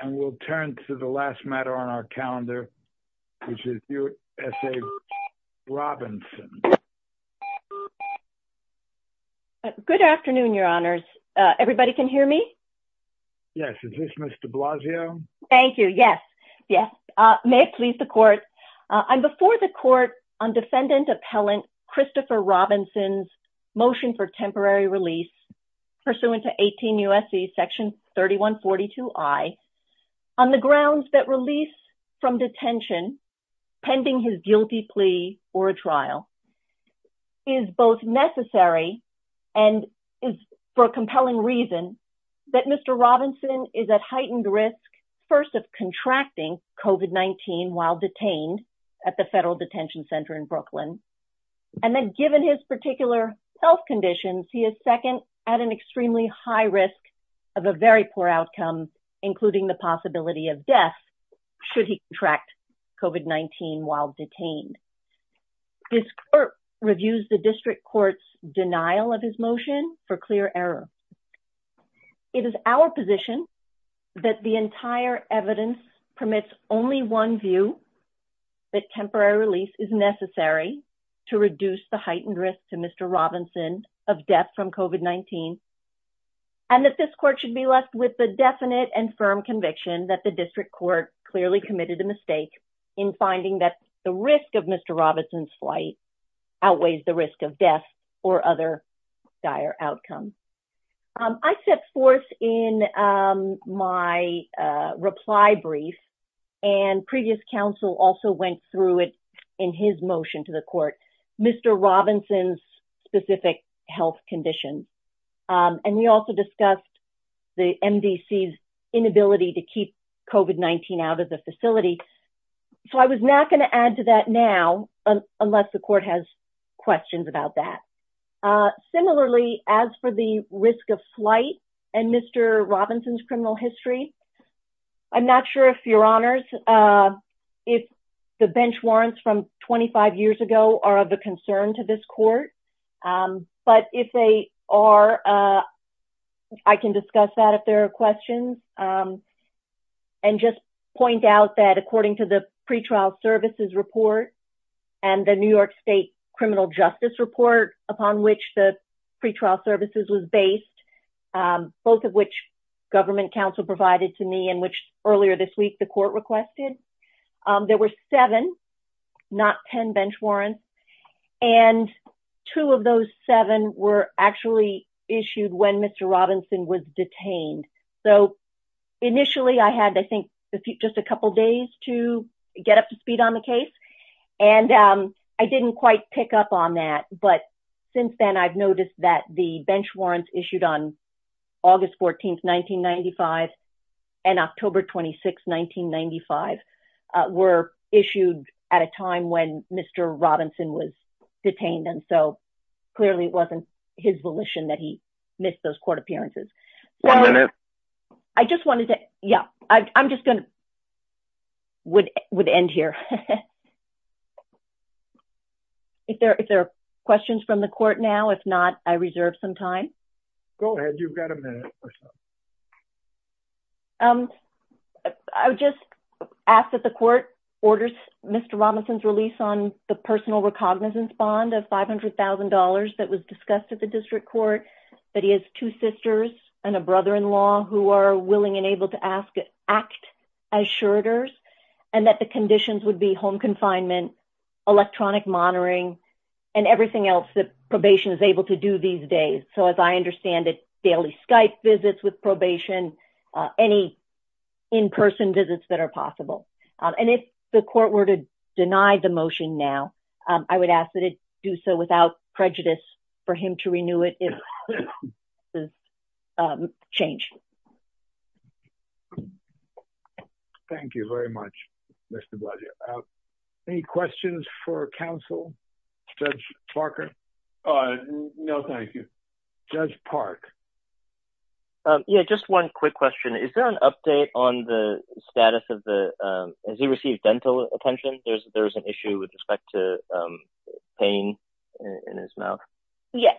and we'll turn to the last matter on our calendar which is U.S.A. Robinson. Good afternoon, your honors. Everybody can hear me? Yes. Is this Ms. de Blasio? Thank you. Yes. Yes. May it please the court. I'm before the court on defendant appellant Christopher Robinson's motion for temporary release pursuant to 18 U.S.C. Section 3142I on the grounds that release from detention pending his guilty plea or a trial is both necessary and is for a compelling reason that Mr. Robinson is at heightened risk first of contracting COVID-19 while detained at the federal detention center in Brooklyn and then given his particular health conditions he is second at an extremely high risk of a very poor outcome including the possibility of death should he contract COVID-19 while detained. This court reviews the district court's denial of his motion for clear error. It is our position that the entire evidence permits only one view that temporary release is necessary to reduce the heightened risk to Mr. Robinson of death from COVID-19 and that this court should be left with the definite and firm conviction that the district court clearly committed a mistake in finding that the risk of Mr. Robinson's flight outweighs the risk of death or other dire outcomes. I set forth in my reply brief and previous counsel also went through it in his motion to the court Mr. Robinson's specific health condition and we also discussed the MDC's inability to keep COVID-19 out of the facility so I was not going to add to that now unless the court has questions about that. Similarly as for the risk of flight and Mr. Robinson's criminal history I'm not sure if your honors if the bench warrants from 25 years ago are of a concern to this court but if they are I can discuss that if there are questions and just point out that according to the pretrial services report and the New York state criminal justice report upon which the pretrial services was based both of which government counsel provided to me and which earlier this week the court requested there were seven not ten bench warrants and two of those seven were actually issued when Mr. Robinson was detained so initially I had I think just a couple days to get up to speed on the case and I didn't quite pick up on that but since then I've noticed that the bench warrants issued on August 14, 1995 and October 26, 1995 were issued at a time when Mr. Robinson was detained and so clearly it wasn't his volition that he missed those court appearances. One minute. I just wanted to yeah I'm just gonna would end here. If there are questions from the court now if not I reserve some time. Go ahead you've got a minute. I would just ask that the court orders Mr. Robinson's release on the personal recognizance bond of $500,000 that was discussed at the district court that he has two sisters and a brother-in-law who are willing and able to ask act as shirters and that the conditions would be home confinement electronic monitoring and everything else that probation is able to do these days so as I understand it daily Skype visits with probation any in-person visits that are possible and if the court were to deny the motion now I would ask that do so without prejudice for him to renew it if the change. Thank you very much Mr. Blagio. Any questions for counsel? Judge Parker? No thank you. Judge Park. Yeah just one quick question is there an update on the status of the has he received dental attention? There's there's an issue with respect to pain in his mouth. Yeah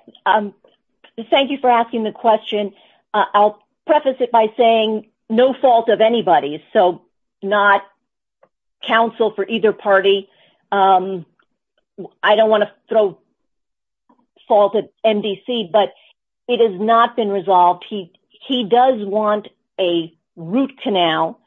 thank you for asking the question. I'll preface it by saying no fault of anybody's so not counsel for either party. I don't want to throw fault at MDC but it has not been resolved. He does want a root canal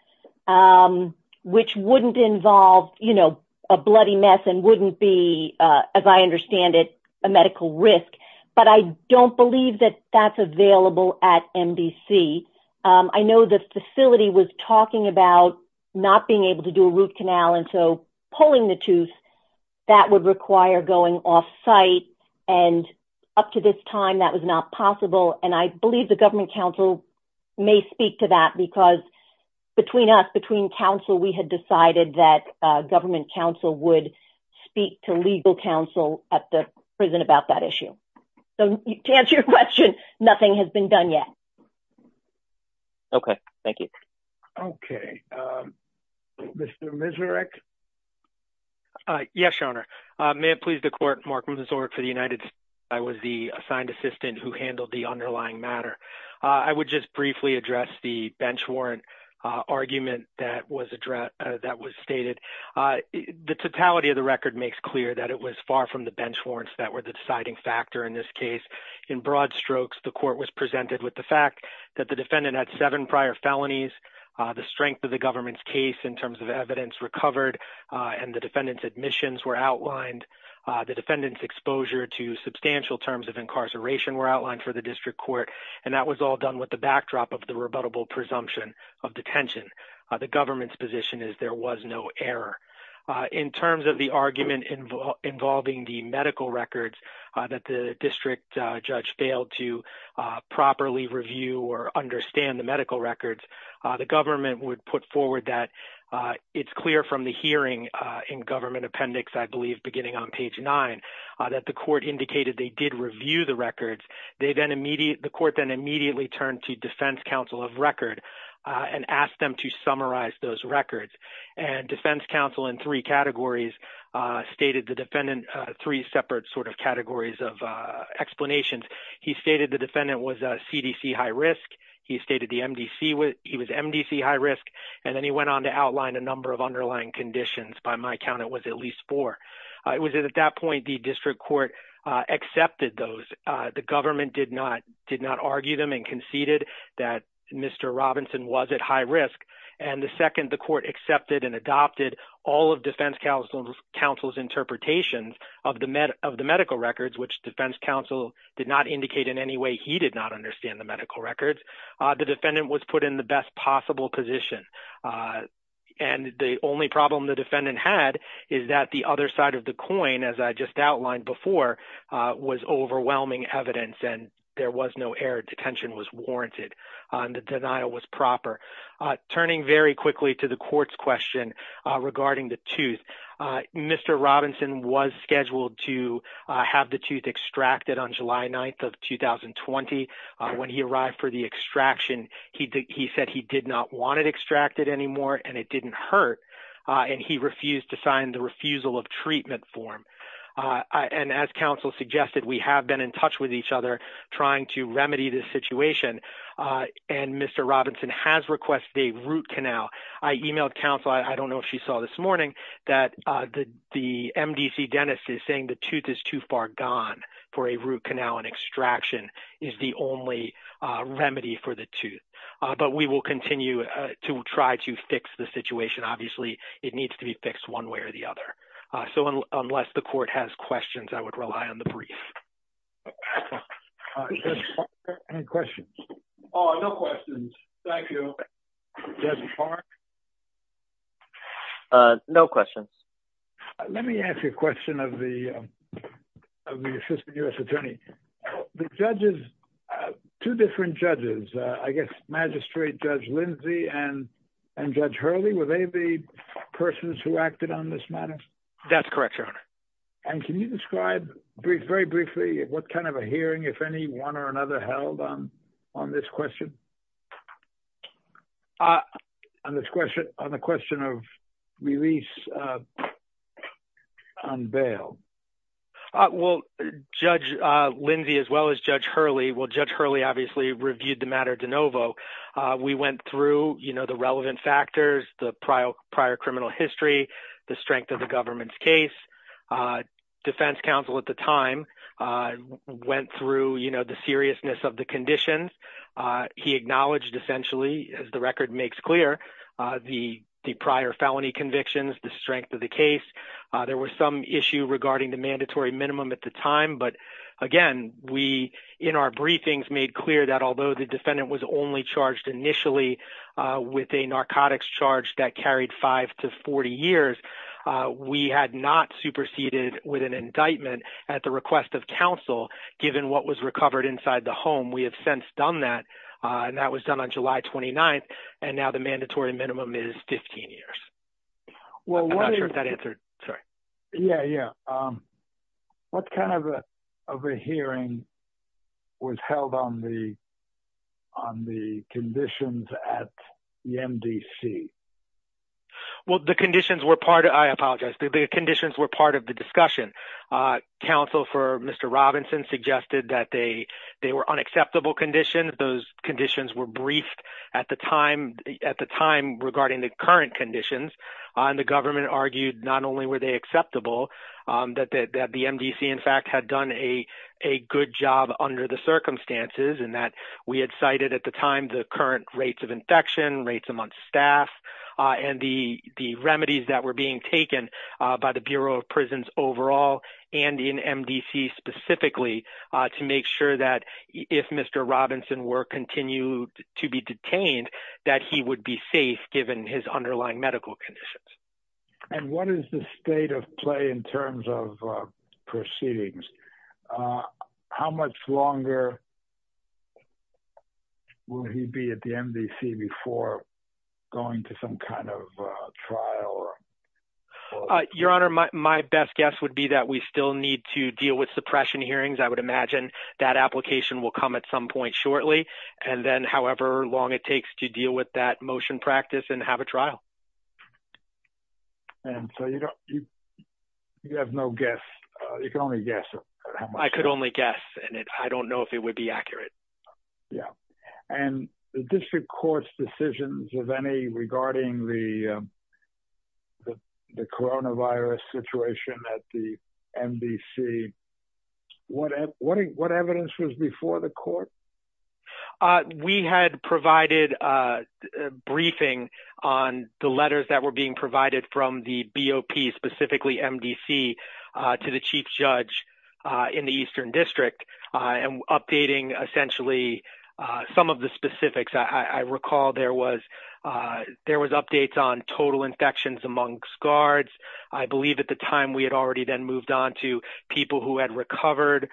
which wouldn't involve you know a bloody mess and wouldn't be as I understand it a medical risk but I don't believe that that's available at MDC. I know the facility was talking about not being able to do a root canal and so pulling the tooth that would require going off-site and up to this time that was not possible and I believe the government council may speak to that because between us between council we had decided that government council would speak to legal counsel at the prison about that issue. So to answer your question nothing has been done yet. Okay thank you. Okay Mr. Miserec. Yes your honor. May it please the court Mark Miseric for the United States. I was the assigned assistant who handled the underlying matter. I would just argue that the defendant had seven prior felonies. The strength of the government's case in terms of evidence recovered and the defendant's admissions were outlined. The defendant's exposure to substantial terms of incarceration were outlined for the district court and that was all done with backdrop of the rebuttable presumption of detention. The government's position is there was no error in terms of the argument involving the medical records that the district judge failed to properly review or understand the medical records. The government would put forward that it's clear from the hearing in government appendix I believe beginning on page nine that the court indicated they did review the records. They then immediately the court then turned to defense counsel of record and asked them to summarize those records and defense counsel in three categories stated the defendant three separate sort of categories of explanations. He stated the defendant was a CDC high risk. He stated the MDC was MDC high risk and then he went on to outline a number of underlying conditions. By my count it was at least four. It was at that the district court accepted those. The government did not did not argue them and conceded that Mr. Robinson was at high risk and the second the court accepted and adopted all of defense counsel's interpretations of the medical records which defense counsel did not indicate in any way he did not understand the medical records. The defendant was put in the best possible position uh and the only problem the defendant had is that the other side of the coin as I just outlined before was overwhelming evidence and there was no air detention was warranted and the denial was proper. Turning very quickly to the court's question regarding the tooth Mr. Robinson was scheduled to have the tooth extracted on July 9th of 2020. When he arrived for the extraction he said he did not want it extracted anymore and it didn't hurt and he refused to sign the refusal of treatment form and as counsel suggested we have been in touch with each other trying to remedy this situation and Mr. Robinson has requested a root canal. I emailed counsel I don't know if she saw this morning that the MDC dentist is saying the tooth is too far gone for a root canal and extraction is the only remedy for the tooth but we will continue to try to fix the situation obviously it needs to be fixed one way or the other so unless the court has questions I would rely on the brief. Any questions? Oh no questions thank you. Judge Park? No questions. Let me ask you a question of the of the assistant U.S. attorney. The judges two different judges I guess magistrate Judge Lindsay and and Judge Hurley were they the persons who acted on this matter? That's correct your honor. And can you describe brief very briefly what kind of a hearing if any one or another held on on this question? Uh on this question on the question of release on bail uh well Judge uh Lindsay as well as Judge Hurley well Judge Hurley obviously reviewed the matter de novo uh we went through you know the relevant factors the prior prior criminal history the strength of the government's case uh defense counsel at the time uh went through you know the essentially as the record makes clear uh the the prior felony convictions the strength of the case uh there was some issue regarding the mandatory minimum at the time but again we in our briefings made clear that although the defendant was only charged initially uh with a narcotics charge that carried 5 to 40 years uh we had not superseded with an indictment at the request of counsel given what was recovered inside the home we have since done that uh and that was done on July 29th and now the mandatory minimum is 15 years. Well I'm not sure if that answered sorry yeah yeah um what kind of a of a hearing was held on the on the conditions at the MDC? Well the conditions were part I apologize the conditions were part of the discussion uh counsel for Mr. Robinson suggested that they they were unacceptable conditions those conditions were briefed at the time at the time regarding the current conditions and the government argued not only were they acceptable um that that the MDC in fact had done a a good job under the circumstances and that we had cited at the time the current rates of infection rates amongst staff and the the remedies that were being taken by the Bureau of Prisons overall and in MDC specifically to make sure that if Mr. Robinson were continued to be detained that he would be safe given his underlying medical conditions. And what is the state of play in terms of proceedings? How much longer will he be at the MDC before going to some kind of trial? Uh your honor my best guess would be that we still need to deal with suppression hearings I would imagine that application will come at some point shortly and then however long it takes to deal with that motion practice and have a trial. And so you don't you you have no guess you can only guess. I could only guess and I don't know if it would be accurate. Yeah and the district court's decisions of any regarding the the coronavirus situation at the MDC what what what evidence was before the court? Uh we had provided a briefing on the letters that were being provided from the BOP specifically MDC to the chief judge in the eastern district and updating essentially some of the specifics. I recall there was there was updates on total infections amongst guards. I believe at the time we had already then moved on to people who had recovered,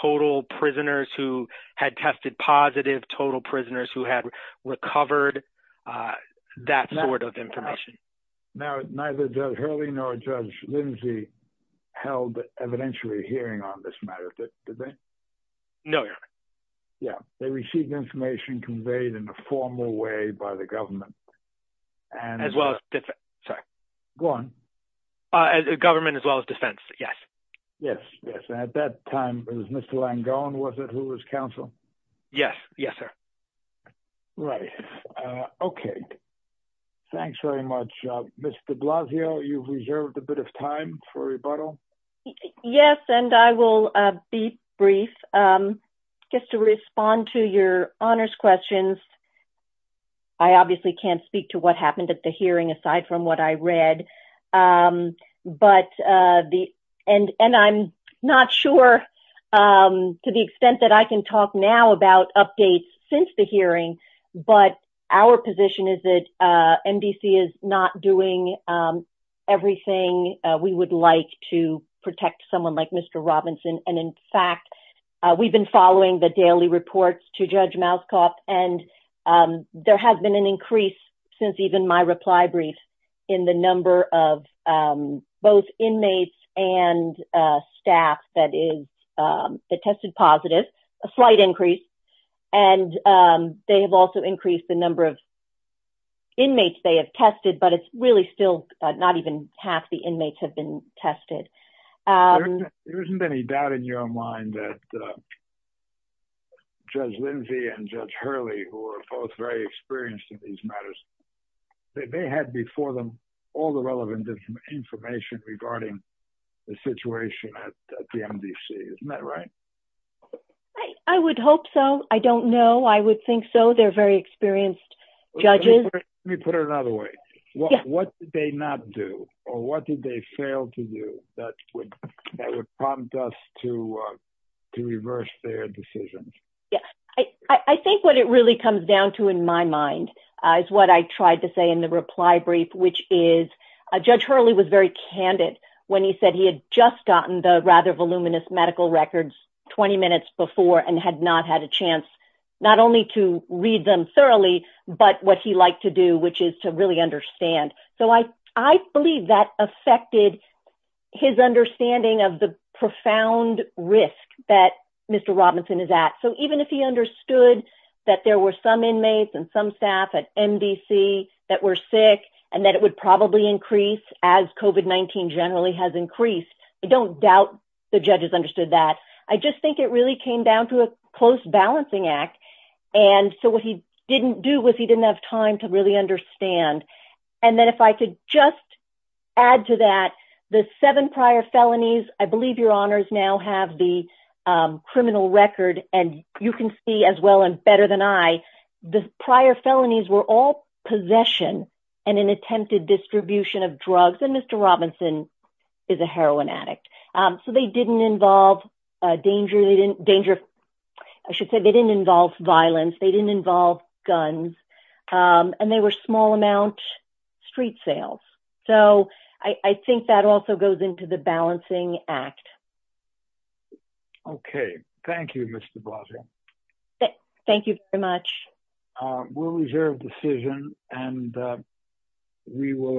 total prisoners who had tested positive, total prisoners who had recovered, that sort of information. Now neither Judge held evidentiary hearing on this matter did they? No your honor. Yeah they received information conveyed in a formal way by the government. And as well as sorry go on uh as a government as well as defense yes. Yes yes at that time it was Mr. Langone was it who was counsel? Yes yes sir. Right uh okay thanks very much uh Ms. de Blasio you've reserved a bit of time for rebuttal. Yes and I will uh be brief um just to respond to your honors questions. I obviously can't speak to what happened at the hearing aside from what I read um but uh the and I'm not sure um to the extent that I can talk now about updates since the hearing but our position is that uh MDC is not doing um everything we would like to protect someone like Mr. Robinson. And in fact we've been following the daily reports to Judge Malzkopf and um there has been an staff that is um that tested positive a slight increase and um they have also increased the number of inmates they have tested but it's really still not even half the inmates have been tested. There isn't any doubt in your mind that Judge Lindsay and Judge Hurley who are both very experienced in these matters they had before them all the relevant information regarding the situation at the MDC isn't that right? I would hope so I don't know I would think so they're very experienced judges. Let me put it another way what did they not do or what did they fail to do that would that would prompt us to uh to reverse their decisions? Yeah I I think what it really comes down to in my mind uh is what I tried to say in the reply brief which is uh Judge Malzkopf when he said he had just gotten the rather voluminous medical records 20 minutes before and had not had a chance not only to read them thoroughly but what he liked to do which is to really understand. So I I believe that affected his understanding of the profound risk that Mr. Robinson is at so even if he understood that there were some inmates and some staff at MDC that were sick and that it would probably increase as COVID-19 generally has increased I don't doubt the judges understood that I just think it really came down to a close balancing act and so what he didn't do was he didn't have time to really understand and then if I could just add to that the seven prior felonies I believe your honors now have the um criminal record and you can see as well and better than I the prior felonies were all possession and an attempted distribution of drugs and Mr. Robinson is a heroin addict um so they didn't involve a danger they didn't danger I should say they didn't involve violence they didn't involve guns um and they were small amount street sales so I I think that also goes into the balancing act. Okay thank you Mr. Blasio. Thank you very much. We'll reserve decision and we will adjourn.